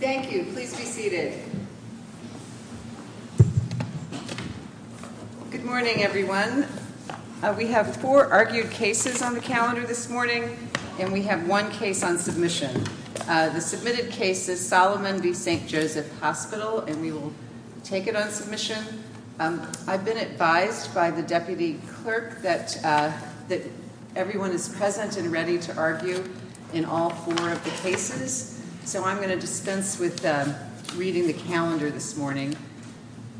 Thank you. Please be seated. Good morning, everyone. We have four argued cases on the calendar this morning, and we have one case on submission. The submitted case is Solomon v. St. Joseph Hospital, and we will take it on submission. I've been advised by the deputy clerk that everyone is present and ready to argue in all four of the cases, so I'm going to dispense with reading the calendar this morning.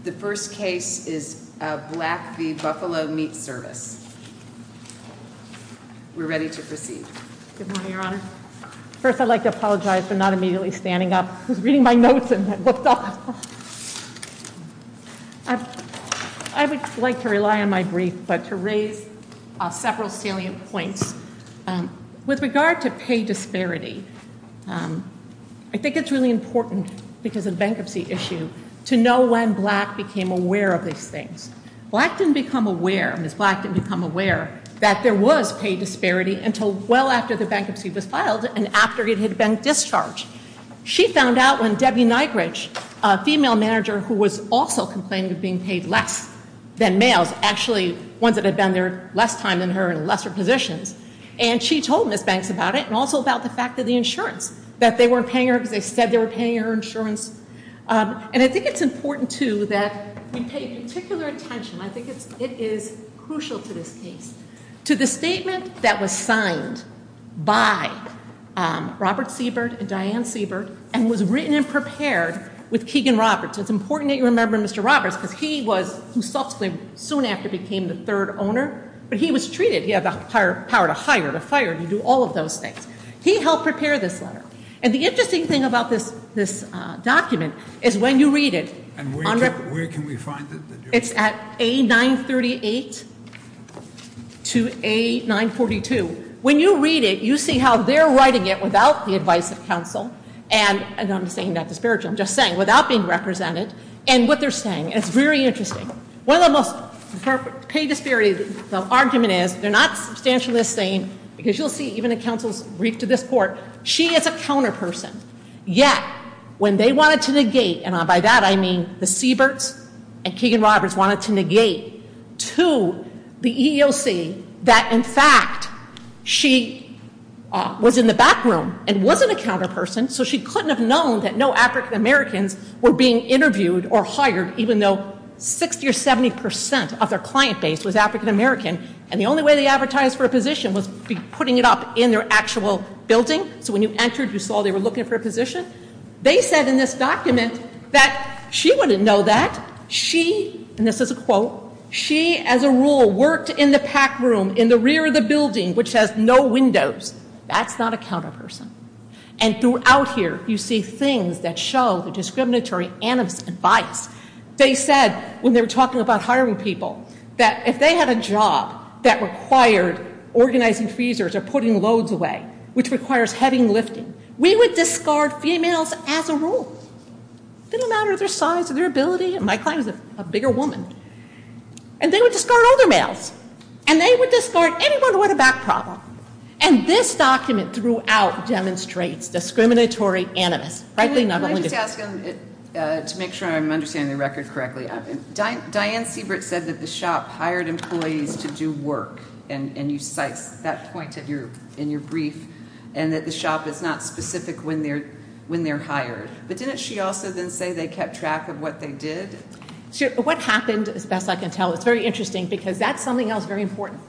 The first case is Black v. Buffalo Meat Service. We're ready to proceed. Good morning, Your Honor. First, I'd like to apologize for not immediately standing up. I was reading my notes, and I flipped off. I would like to rely on my points. With regard to pay disparity, I think it's really important, because of the bankruptcy issue, to know when Black became aware of these things. Black didn't become aware, Ms. Black didn't become aware, that there was pay disparity until well after the bankruptcy was filed and after it had been discharged. She found out when Debbie Nygridge, a female manager who was also complaining of being paid less than males, actually ones that had been there less time than her and lesser positions. And she told Ms. Banks about it, and also about the fact that the insurance, that they weren't paying her because they said they were paying her insurance. And I think it's important, too, that we pay particular attention, I think it is crucial to this case, to the statement that was signed by Robert Siebert and Diane Siebert and was written and prepared with Keegan Roberts. It's important that you remember Mr. Roberts, because he was, soon after became the third owner, but he was treated, he had the power to hire, to fire, to do all of those things. He helped prepare this letter. And the interesting thing about this document is when you read it, it's at A938 to A942. When you read it, you see how they're writing it without the advice of counsel, and I'm saying that disparage, I'm just saying, without being represented, and what they're saying. And it's very interesting. One of the most, the pay disparity, the argument is, they're not substantially the same, because you'll see even in counsel's brief to this court, she is a counterperson. Yet, when they wanted to negate, and by that I mean the Sieberts and Keegan Roberts wanted to negate to the EEOC that, in fact, she was in the back room and wasn't a counterperson, so she couldn't have known that no African Americans were being interviewed or hired, even though 60 or 70 percent of their client base was African American, and the only way they advertised for a position was putting it up in their actual building. So when you entered, you saw they were looking for a position. They said in this document that she wouldn't know that. She, and this is a quote, she, as a rule, worked in the PAC room in the rear of the building, which has no windows. That's not a counterperson. And throughout here, you see things that show the discriminatory animus and bias. They said, when they were talking about hiring people, that if they had a job that required organizing freezers or putting loads away, which requires heavy lifting, we would discard females as a rule. Didn't matter their size or their ability. My client was a bigger woman. And they would discard older males. And they would discard anyone with a back problem. And this document, throughout, demonstrates discriminatory animus. Can I just ask, to make sure I'm understanding the record correctly, Diane Siebert said that the shop hired employees to do work, and you cite that point in your brief, and that the shop is not specific when they're hired. But didn't she also then say they kept track of what they did? What happened, as best I can tell, it's very interesting, because that's something else very important.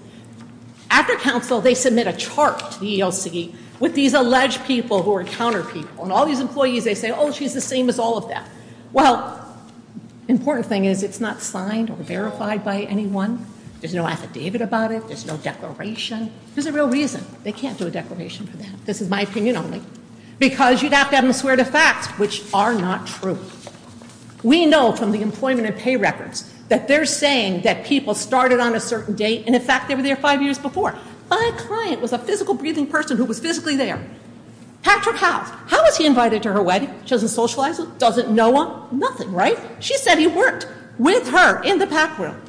After council, they submit a with these alleged people who are counter people. And all these employees, they say, oh, she's the same as all of them. Well, important thing is, it's not signed or verified by anyone. There's no affidavit about it. There's no declaration. There's a real reason they can't do a declaration for that. This is my opinion only. Because you'd have to have them swear to fact, which are not true. We know from the employment and pay records that they're saying that people started on a certain date, and in fact, they were there five years before. My client was a physical breathing person who was physically there. Patrick House, how was he invited to her wedding? She doesn't socialize with, doesn't know him, nothing, right? She said he worked with her in the pack room.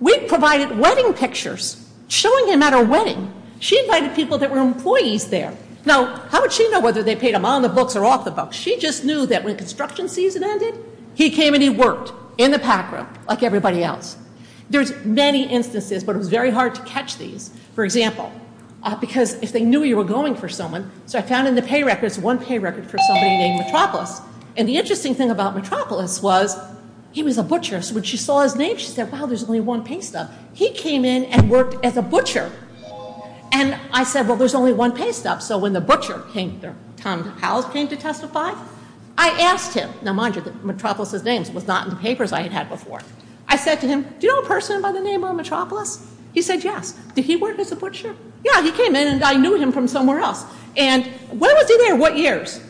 We provided wedding pictures showing him at her wedding. She invited people that were employees there. Now, how would she know whether they paid him on the books or off the books? She just knew that when construction season ended, he came and he worked in the pack room like everybody else. There's many instances, but it was very hard to catch these. For example, because if they knew you were going for someone, so I found in the pay records one pay record for somebody named Metropolis. And the interesting thing about Metropolis was he was a butcher. So when she saw his name, she said, wow, there's only one pay stub. He came in and worked as a butcher. And I said, well, there's only one pay stub. So when the butcher came, Tom House came to testify, I asked him. Now, mind you, the Metropolis's names was not in the papers I had had before. I said to him, do you know a person by the name of Metropolis? He said yes. Did he work as a butcher? Yeah, he came in and I knew him from somewhere else. And when was he there? What years?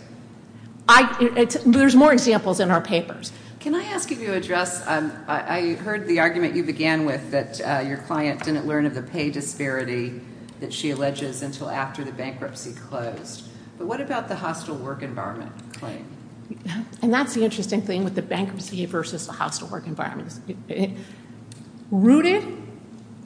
There's more examples in our papers. Can I ask you to address, I heard the argument you began with that your client didn't learn of the pay disparity that she alleges until after the bankruptcy closed. But what about the hostile work environment claim? And that's the interesting thing with the bankruptcy versus the hostile work environment. Rooted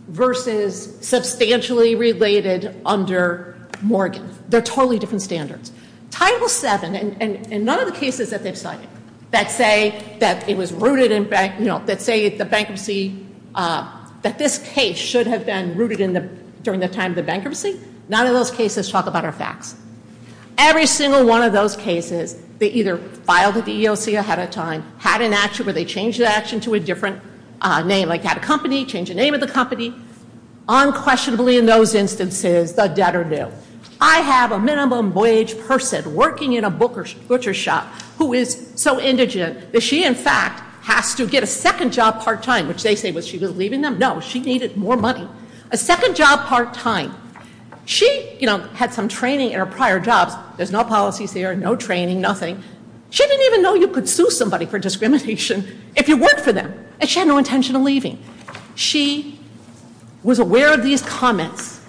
versus substantially related under Morgan. They're totally different standards. Title VII, and none of the cases that they've cited that say that it was rooted in, you know, that say the bankruptcy, that this case should have been rooted in the, during the time of the bankruptcy, none of those cases talk about our facts. Every single one of those cases, they refer to a different name, like had a company, change the name of the company. Unquestionably in those instances, the debtor knew. I have a minimum wage person working in a butcher shop who is so indigent that she in fact has to get a second job part-time, which they say was she was leaving them. No, she needed more money. A second job part-time. She, you know, had some training in her prior jobs. There's no policies there, no training, nothing. She didn't even know you could sue somebody for discrimination if you worked for them, and she had no intention of leaving. She was aware of these comments,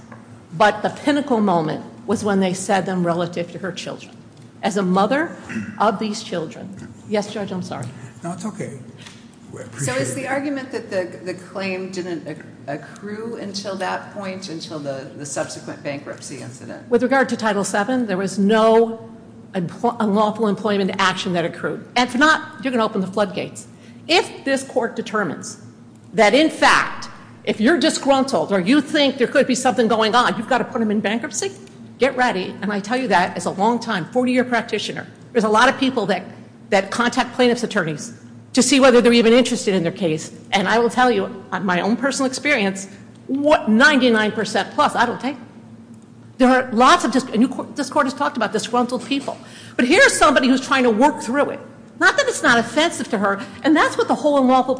but the pinnacle moment was when they said them relative to her children. As a mother of these children. Yes, Judge, I'm sorry. No, it's okay. So is the argument that the claim didn't accrue until that point, until the subsequent bankruptcy incident? With regard to Title VII, there was no unlawful employment action that accrued. If not, you're going to open the floodgates. If this court determines that in fact, if you're disgruntled or you think there could be something going on, you've got to put them in bankruptcy, get ready. And I tell you that as a long-time 40-year practitioner, there's a lot of people that contact plaintiff's attorneys to see whether they're even interested in their case. And I will tell you on my own personal experience, 99% plus, I don't think. There are lots of, this court has talked about disgruntled people. But here's somebody who's trying to work through it. Not that it's not offensive to her, and that's what the whole unlawful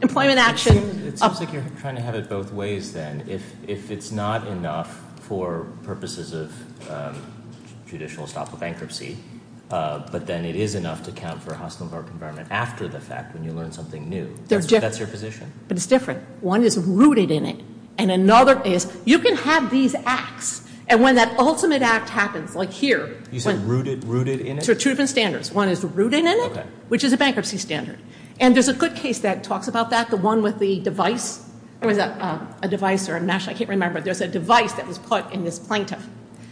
employment action- It seems like you're trying to have it both ways then. If it's not enough for purposes of judicial stop of bankruptcy, but then it is enough to account for a hostile work environment after the fact when you learn something new, that's your position. But it's different. One is rooted in it. And another is, you can have these acts. And when that ultimate act happens, like here- You said rooted in it? So two different standards. One is rooted in it, which is a bankruptcy standard. And there's a good case that talks about that, the one with the device. There was a device, or a match, I can't remember. There's a device that was put in this plaintiff.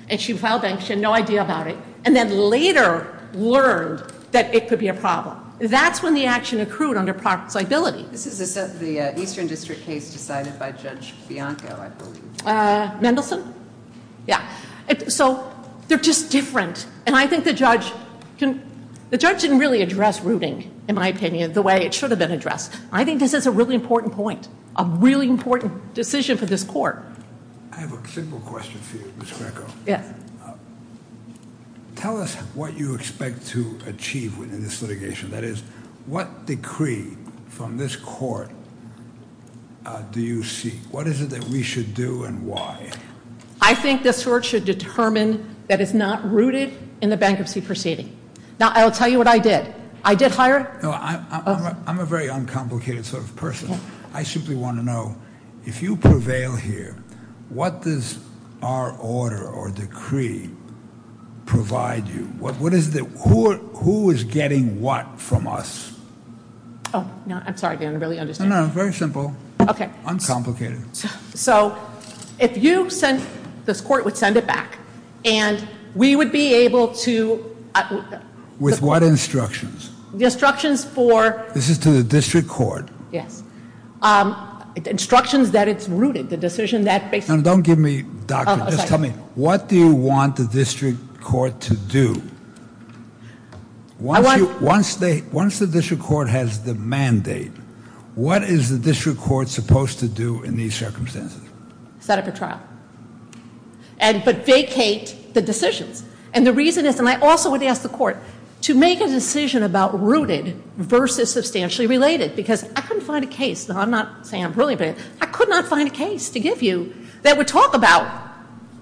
And she filed bankruptcy, she had no idea about it. And then later learned that it could be a problem. That's when the action accrued under propriety liability. This is the Eastern District case decided by Judge Bianco, I believe. Mendelsohn? Yeah. So, they're just different. And I think the judge can- The judge didn't really address rooting, in my opinion, the way it should have been addressed. I think this is a really important point. A really important decision for this court. I have a simple question for you, Ms. Greco. Yeah. Tell us what you expect to achieve within this litigation. That is, what decree from this court do you seek? What is it that we should do, and why? I think this court should determine that it's not rooted in the bankruptcy proceeding. Now, I'll tell you what I did. I did hire- No, I'm a very uncomplicated sort of person. I simply want to know, if you prevail here, what does our order or decree provide you? Who is getting what from us? Oh, no. I'm sorry, Dan. I barely understand. No, no. Very simple. Uncomplicated. So, if you send- This court would send it back, and we would be able to- With what instructions? The instructions for- This is to the district court. Yes. Instructions that it's rooted. The decision that- Don't give me doctrine. Just tell me, what do you want the district court to do? Once the district court has the mandate, what is the district court supposed to do in these circumstances? Set up a trial. But vacate the decisions. And the reason is, and I also would ask the court to make a decision about rooted versus substantially related. Because I couldn't find a case- Now, I'm not saying I'm ruling, but I could not find a case to give you that would talk about,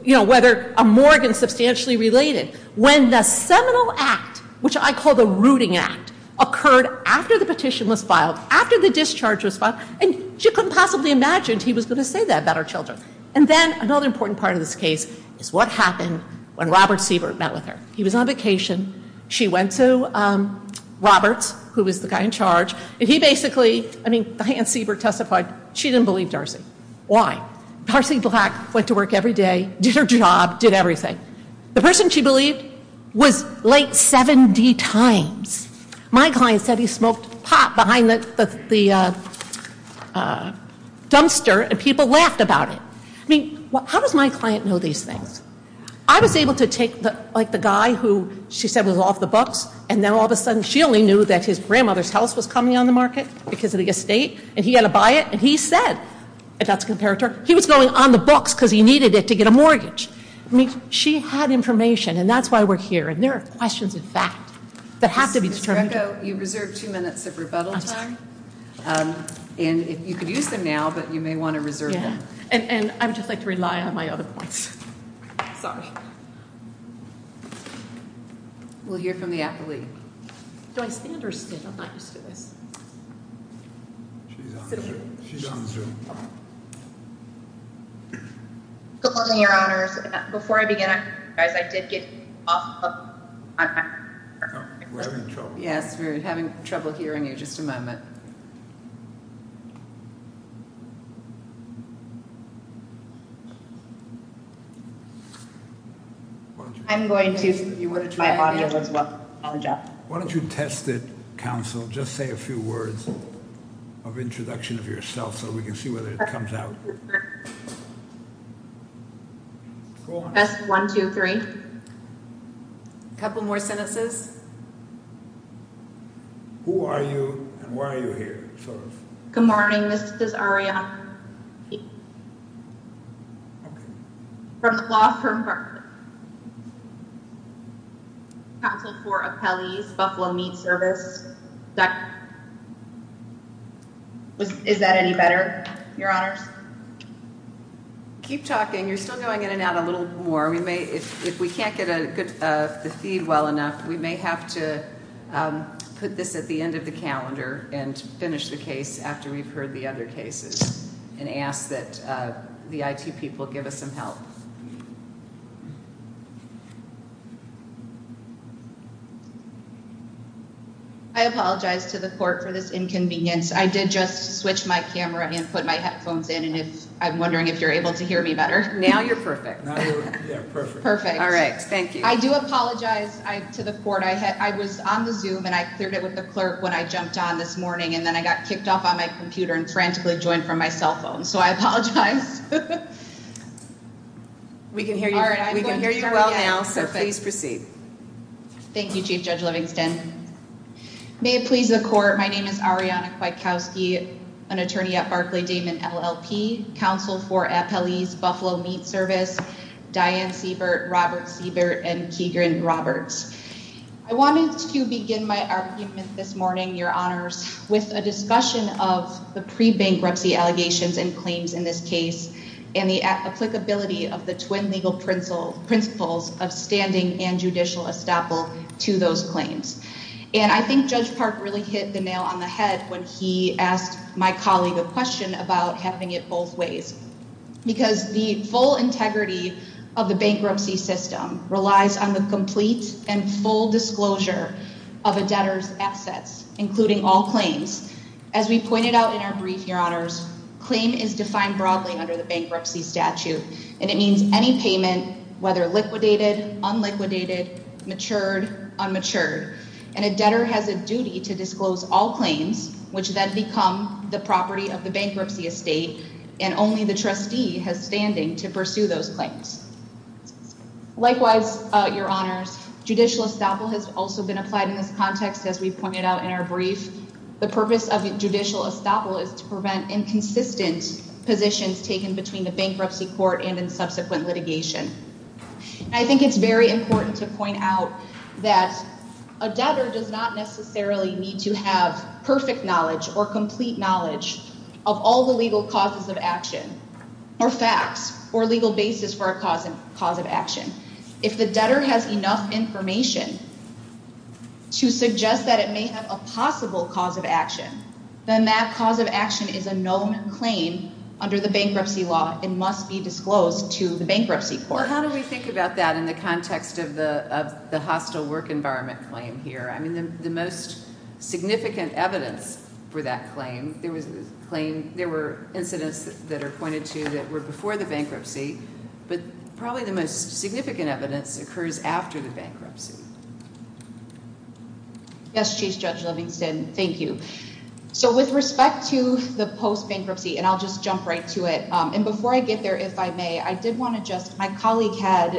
you know, whether a morgue is substantially related. When the seminal act, which I call the rooting act, occurred after the petition was filed, after the discharge was filed, and she couldn't possibly imagine he was going to say that about our children. And then, another important part of this case is what happened when Robert Siebert met with her. He was on vacation. She went to Robert, who was the guy in charge. And he basically, I mean, Diane Siebert testified she didn't believe Darcy. Why? Darcy Black went to work every day, did her job, did everything. The person she believed was late 70 times. My client said he smoked pot behind the dumpster and people laughed about it. I mean, how does my client know these things? I was able to take, like, the guy who she said was off the books, and then, all of a sudden, she only knew that his grandmother's house was coming on the market because of the estate, and he had to buy it. And he said, if that's a comparator, he was going on the books because he needed it to get a mortgage. I mean, she had information, and that's why we're here. And there are questions, in fact, that have to be determined. Ms. Greco, you reserve two minutes of rebuttal time. And you could use them now, but you may want to reserve them. And I would just like to rely on my other points. Sorry. We'll hear from the athlete. Do I stand or stand? I'm not used to this. She's on Zoom. Good morning, Your Honors. Before I begin, guys, I did get off. Yes, we're having trouble hearing you. Just a moment. Why don't you test it, counsel? Just say a few words of introduction of yourself, so we can see whether it comes out. Test one, two, three. A couple more sentences. Who are you, and why are you here? Good morning, Ms. Desaria. From the law firm. Counsel for Appellee's Buffalo Meat Service. Is that any better, Your Honors? Keep talking. You're still going in and out a little more. If we can't get the feed well enough, we may have to put this at the end of the calendar and finish the case after we've heard the other cases and ask that the IT people give us some help. I apologize to the court for this inconvenience. I did just switch my camera and put my headphones in, and I'm wondering if you're able to hear me better. Now you're perfect. Perfect. All right. Thank you. I do apologize to the court. I was on the Zoom, and I cleared it with the clerk when I jumped on this morning, and then I got kicked off on my computer and frantically joined from my cell phone. So I apologize. We can hear you well now, so please proceed. Thank you, Chief Judge Livingston. May it please the court, my name is Ariana Kwiatkowski, an attorney at Barclay-Damon LLP, counsel for Appellee's Buffalo Meat Service, Diane Siebert, Robert Siebert, and Keegan Roberts. I wanted to begin my argument this morning, Your Honors, with a discussion of the pre-bankruptcy allegations and claims in this case and the applicability of the twin legal principles of standing and judicial estoppel to those claims. And I think Judge Park really hit the nail on the head when he asked my colleague a question about having it both ways, because the full integrity of the bankruptcy system relies on the complete and full disclosure of a debtor's assets, including all claims. As we pointed out in our brief, Your Honors, claim is defined broadly under the bankruptcy statute, and it means any payment, whether liquidated, unliquidated, matured, unmatured, a debtor has a duty to disclose all claims, which then become the property of the bankruptcy estate, and only the trustee has standing to pursue those claims. Likewise, Your Honors, judicial estoppel has also been applied in this context, as we pointed out in our brief. The purpose of judicial estoppel is to prevent inconsistent positions taken between the bankruptcy court and in subsequent litigation. I think it's very important to point out that a debtor does not necessarily need to have perfect knowledge or complete knowledge of all the legal causes of action or facts or legal basis for a cause of action. If the debtor has enough information to suggest that it may have a possible cause of action, then that cause of action is a known claim under the bankruptcy law and must be disclosed to the bankruptcy court. Well, how do we think about that in the context of the hostile work environment claim here? I mean, the most significant evidence for that claim, there were incidents that are pointed to that were before the bankruptcy, but probably the most significant evidence occurs after the bankruptcy. Yes, Chief Judge Livingston, thank you. So with respect to the post-bankruptcy, and I'll just jump right to it, and before I get there, if I may, I did want to just, my colleague had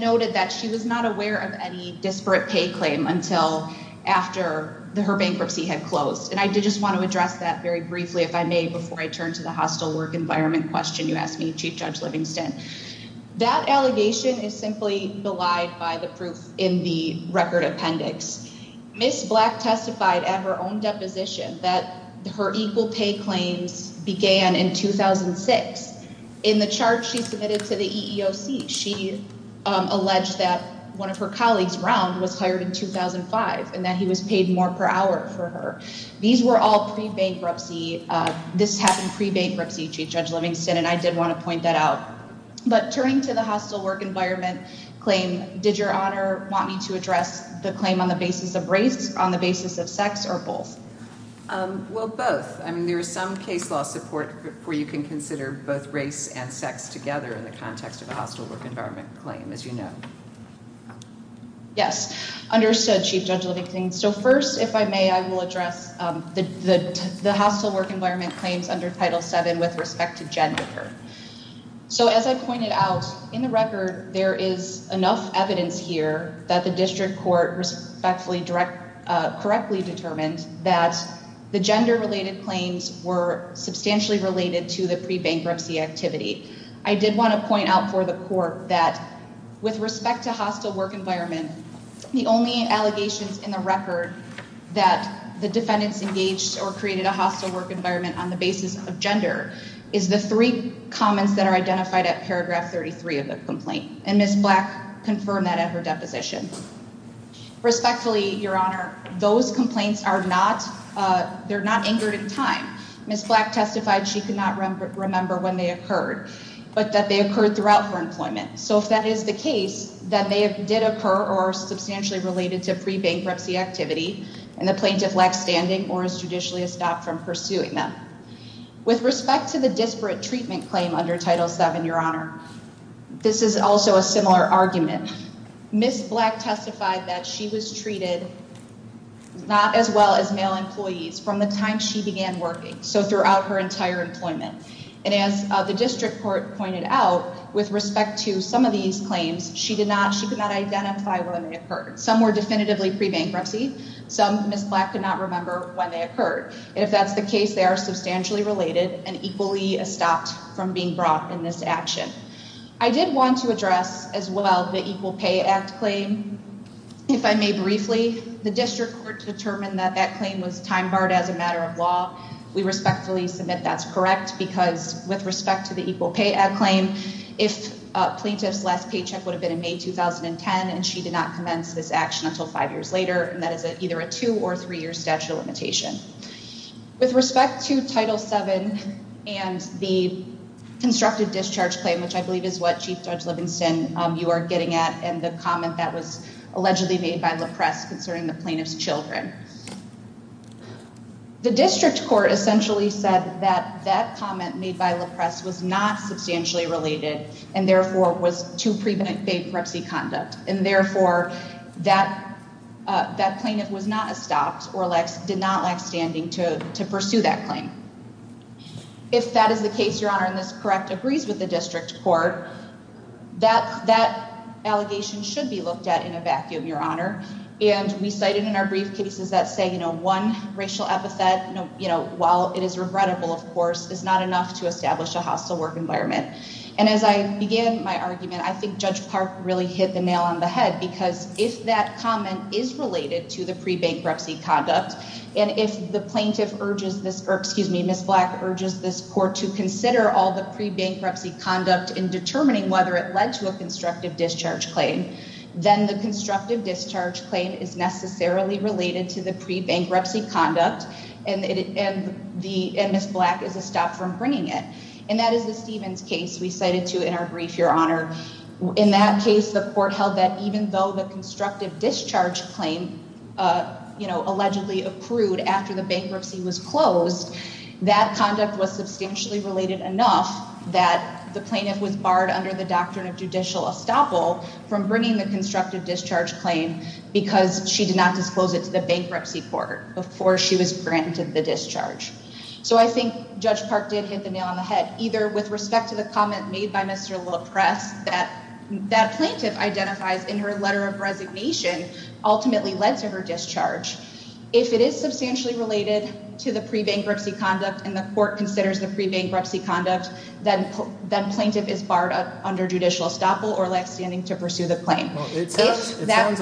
noted that she was not aware of any disparate pay claim until after her bankruptcy had closed. And I did just want to address that very briefly, if I may, before I turn to the hostile work environment question you asked me, Chief Judge Livingston. That allegation is simply belied by the proof in the record appendix. Ms. Black testified at her own deposition that her equal pay claims began in 2006. In the charge she submitted to the EEOC, she alleged that one of her colleagues, Round, was hired in 2005, and that he was paid more per hour for her. These were all pre-bankruptcy. This happened pre-bankruptcy, Chief Judge Livingston, and I did want to point that out. But turning to the hostile work environment claim, did Your Honor want me to address the basis of race on the basis of sex, or both? Well, both. I mean, there is some case law support where you can consider both race and sex together in the context of a hostile work environment claim, as you know. Yes. Understood, Chief Judge Livingston. So first, if I may, I will address the hostile work environment claims under Title VII with respect to Jennifer. So as I pointed out, in the record, there is enough evidence here that the District Court respectfully, correctly determined that the gender-related claims were substantially related to the pre-bankruptcy activity. I did want to point out for the Court that with respect to hostile work environment, the only allegations in the record that the defendants engaged or created a hostile work environment on the basis of gender is the three comments that are identified at paragraph 33 of the complaint, and Ms. Black confirmed that at her deposition. Respectfully, Your Honor, those complaints are not, they're not angered in time. Ms. Black testified she could not remember when they occurred, but that they occurred throughout her employment. So if that is the case, then they did occur or are substantially related to pre-bankruptcy activity, and the plaintiff lacks standing or is judicially stopped from pursuing them. With respect to the disparate treatment claim under Title VII, Your Honor, this is also a similar argument. Ms. Black testified that she was treated not as well as male employees from the time she began working, so throughout her entire employment. And as the District Court pointed out, with respect to some of these claims, she did not, she could not identify when they occurred. Some were definitively pre-bankruptcy, some Ms. Black could not remember when they occurred, and if that's the case, they are substantially related and equally stopped from being brought in this action. I did want to address as well the Equal Pay Act claim. If I may briefly, the District Court determined that that claim was time barred as a matter of law. We respectfully submit that's correct, because with respect to the Equal Pay Act claim, if plaintiff's last paycheck would have been in May 2010, and she did not commence this action until five years later, and that is either a two- or three-year statute of limitation. With respect to Title VII and the constructive discharge claim, which I believe is what Chief Judge Livingston, you are getting at, and the comment that was allegedly made by LaPresse concerning the plaintiff's children, the District Court essentially said that that comment made by LaPresse was not substantially related, and therefore was too pre-bankruptcy conduct, and therefore that plaintiff was not stopped or did not lack standing to pursue that claim. If that is the case, Your Honor, and this correct agrees with the District Court, that allegation should be looked at in a vacuum, Your Honor, and we cited in our brief cases that say, you know, one racial epithet, you know, while it is regrettable, of course, is not enough to establish a hostile work environment. And as I begin my argument, I think Judge Park really hit the nail on the head, because if that comment is related to the pre-bankruptcy conduct, and if the plaintiff urges this, or excuse me, Ms. Black urges this Court to consider all the pre-bankruptcy conduct in determining whether it led to a constructive discharge claim, then the constructive discharge claim is necessarily related to the pre-bankruptcy conduct, and Ms. Black is a stop from bringing it, and that is Stephen's case we cited to in our brief, Your Honor. In that case, the Court held that even though the constructive discharge claim, you know, allegedly approved after the bankruptcy was closed, that conduct was substantially related enough that the plaintiff was barred under the doctrine of judicial estoppel from bringing the constructive discharge claim, because she did not disclose it to the bankruptcy court before she was granted the discharge. So I think Judge Park did hit the nail on the head, either with respect to the comment made by Mr. Loprest that that plaintiff identifies in her letter of resignation ultimately led to her discharge. If it is substantially related to the pre-bankruptcy conduct, and the Court considers the pre-bankruptcy conduct, then the plaintiff is barred under judicial estoppel or lax standing to pursue the claim. It sounds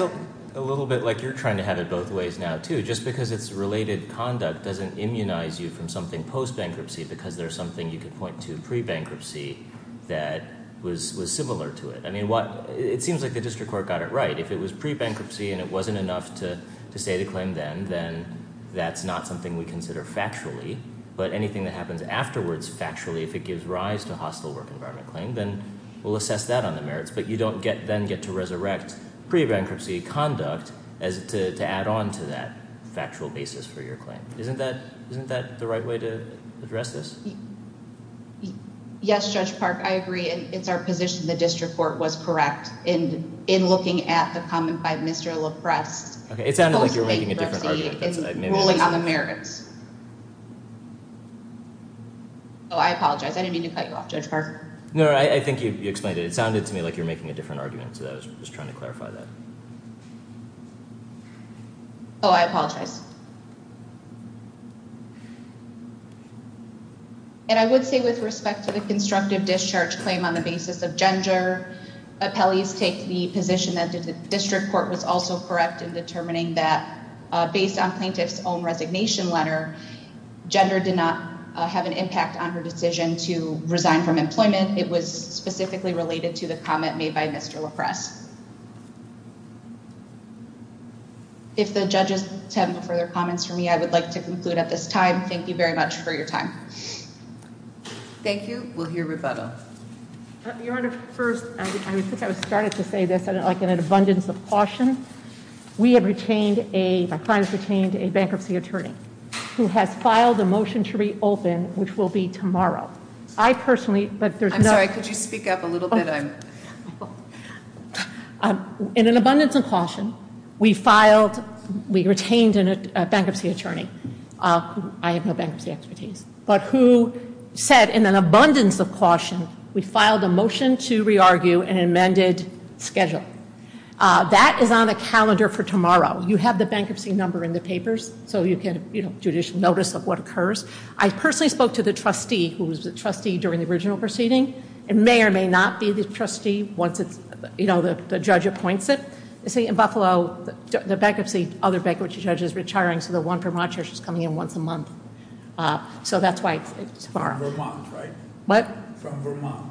a little bit like you're trying to have it both ways now, too. Just because it's related conduct doesn't immunize you from something post-bankruptcy because there's something you could point to pre-bankruptcy that was similar to it. I mean, it seems like the district court got it right. If it was pre-bankruptcy and it wasn't enough to state a claim then, then that's not something we consider factually. But anything that happens afterwards factually, if it gives rise to hostile work environment claim, then we'll assess that on the merits. But you don't then get to resurrect pre-bankruptcy conduct to add on to that issue. Yes, Judge Park, I agree. It's our position the district court was correct in looking at the comment by Mr. LaPrest. It sounded like you're making a different argument. It's ruling on the merits. Oh, I apologize. I didn't mean to cut you off, Judge Park. No, I think you explained it. It sounded to me like you're making a different argument, so I was just trying to clarify that. Oh, I apologize. And I would say with respect to the constructive discharge claim on the basis of gender, appellees take the position that the district court was also correct in determining that based on plaintiff's own resignation letter, gender did not have an impact on her decision to resign from employment. It was specifically related to the comment made by Mr. LaPrest. If the judges have no further comments for me, I would like to conclude at this time. Thank you very much for your time. Thank you. We'll hear rebuttal. Your Honor, first, I would think I would start it to say this, like in an abundance of caution, we have retained a, my client has retained a bankruptcy attorney who has filed a motion to reopen, which will be tomorrow. I personally, but there's no... I'm sorry, could you speak up a little bit? In an abundance of caution, we filed, we retained a bankruptcy attorney. I have no bankruptcy expertise, but who said in an abundance of caution, we filed a motion to re-argue an amended schedule. That is on the calendar for tomorrow. You have the bankruptcy number in the papers, so you can, you know, judicial notice of what occurs. I personally spoke to the trustee who was the trustee during the original proceeding. It may or may not be the trustee, but I'm not sure. I spoke to the trustee once it's, you know, the judge appoints it. You see in Buffalo, the bankruptcy, other bankruptcy judges retiring, so the one Vermont judge is coming in once a month. So that's why it's tomorrow. Vermont, right? What? From Vermont.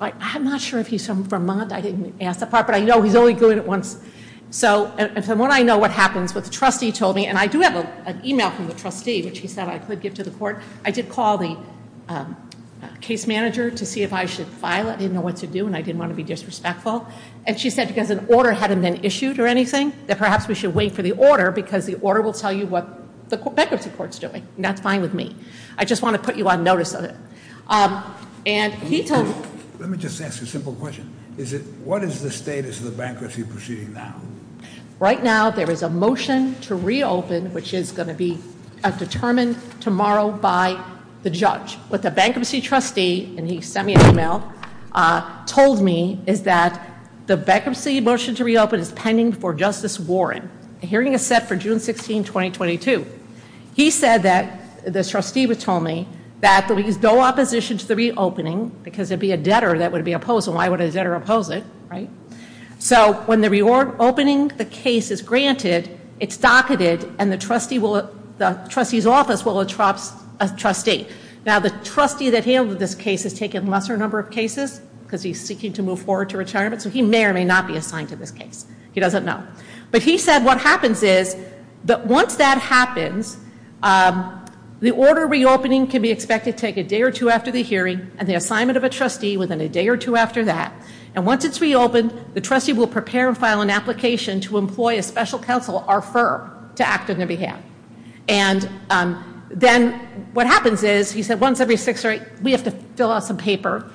I'm not sure if he's from Vermont. I didn't ask that part, but I know he's only doing it once. So, and from what I know, what happens with the trustee told me, and I do have an email from the trustee, which he said I could give to the court. I did call the case manager to see if I should file it. I didn't know what to do, and I didn't want to be disrespectful. And she said, because an order hadn't been issued or anything, that perhaps we should wait for the order, because the order will tell you what the bankruptcy court's doing, and that's fine with me. I just want to put you on notice of it. And he told me... Let me just ask a simple question. Is it, what is the status of the bankruptcy proceeding now? Right now, there is a motion to reopen, which is going to be determined tomorrow by the judge. But the bankruptcy trustee, and he sent me an email, told me is that the bankruptcy motion to reopen is pending for Justice Warren. The hearing is set for June 16, 2022. He said that, the trustee told me, that there is no opposition to the reopening, because it'd be a debtor that would be opposed, and why would a debtor oppose it, right? So, when the reopening, the case is granted, it's docketed, and the trustee will, the trustee's he's seeking to move forward to retirement, so he may or may not be assigned to this case. He doesn't know. But he said what happens is, that once that happens, the order reopening can be expected to take a day or two after the hearing and the assignment of a trustee within a day or two after that. And once it's reopened, the trustee will prepare and file an application to employ a special counsel, our firm, to act on their behalf. And then, what happens is, he said once every six or eight, we have to fill out some paper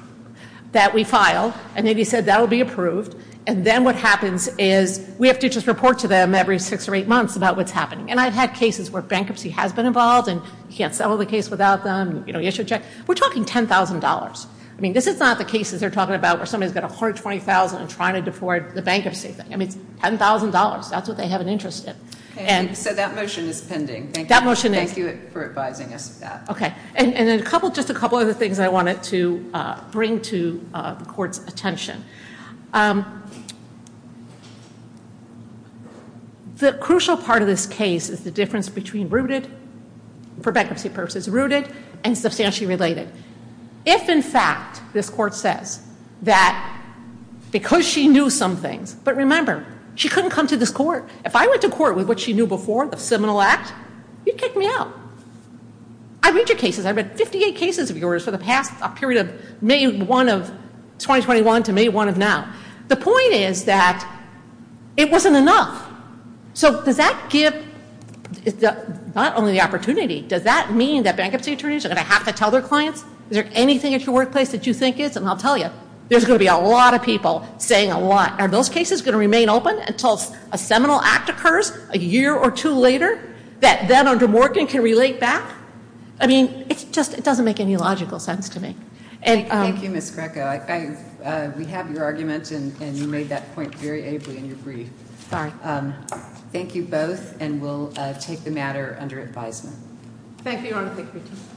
that we file, and then he said that will be approved, and then what happens is, we have to just report to them every six or eight months about what's happening. And I've had cases where bankruptcy has been involved, and you can't settle the case without them, you know, issue a check. We're talking $10,000. I mean, this is not the cases they're talking about where somebody's got $120,000 and trying to defraud the bankruptcy thing. I mean, $10,000, that's what they have an interest in. So that motion is pending. Thank you for advising us of that. Okay. And then a couple, just a couple other things I wanted to bring to the court's attention. The crucial part of this case is the difference between rooted, for bankruptcy purposes, rooted, and substantially related. If, in fact, this court says that because she knew some things, but remember, she couldn't come to this court. If I went to court with what she knew before, the Seminole Act, you'd kick me out. I read your cases. I read 58 cases of yours for the past period of May 1 of 2021 to May 1 of now. The point is that it wasn't enough. So does that give not only the opportunity, does that mean that bankruptcy attorneys are going to have to tell their clients, is there anything at your workplace that you think is, and I'll tell you, there's going to be a lot of people saying a lot, are those cases going to remain open until a Seminole Act occurs a year or two later, that then under Morgan can relate back? I mean, it's just, it doesn't make any logical sense to me. Thank you, Ms. Greco. We have your argument, and you made that point very ably in your brief. Sorry. Thank you both, and we'll take the matter under advisement. Thank you, Your Honor. Thank you.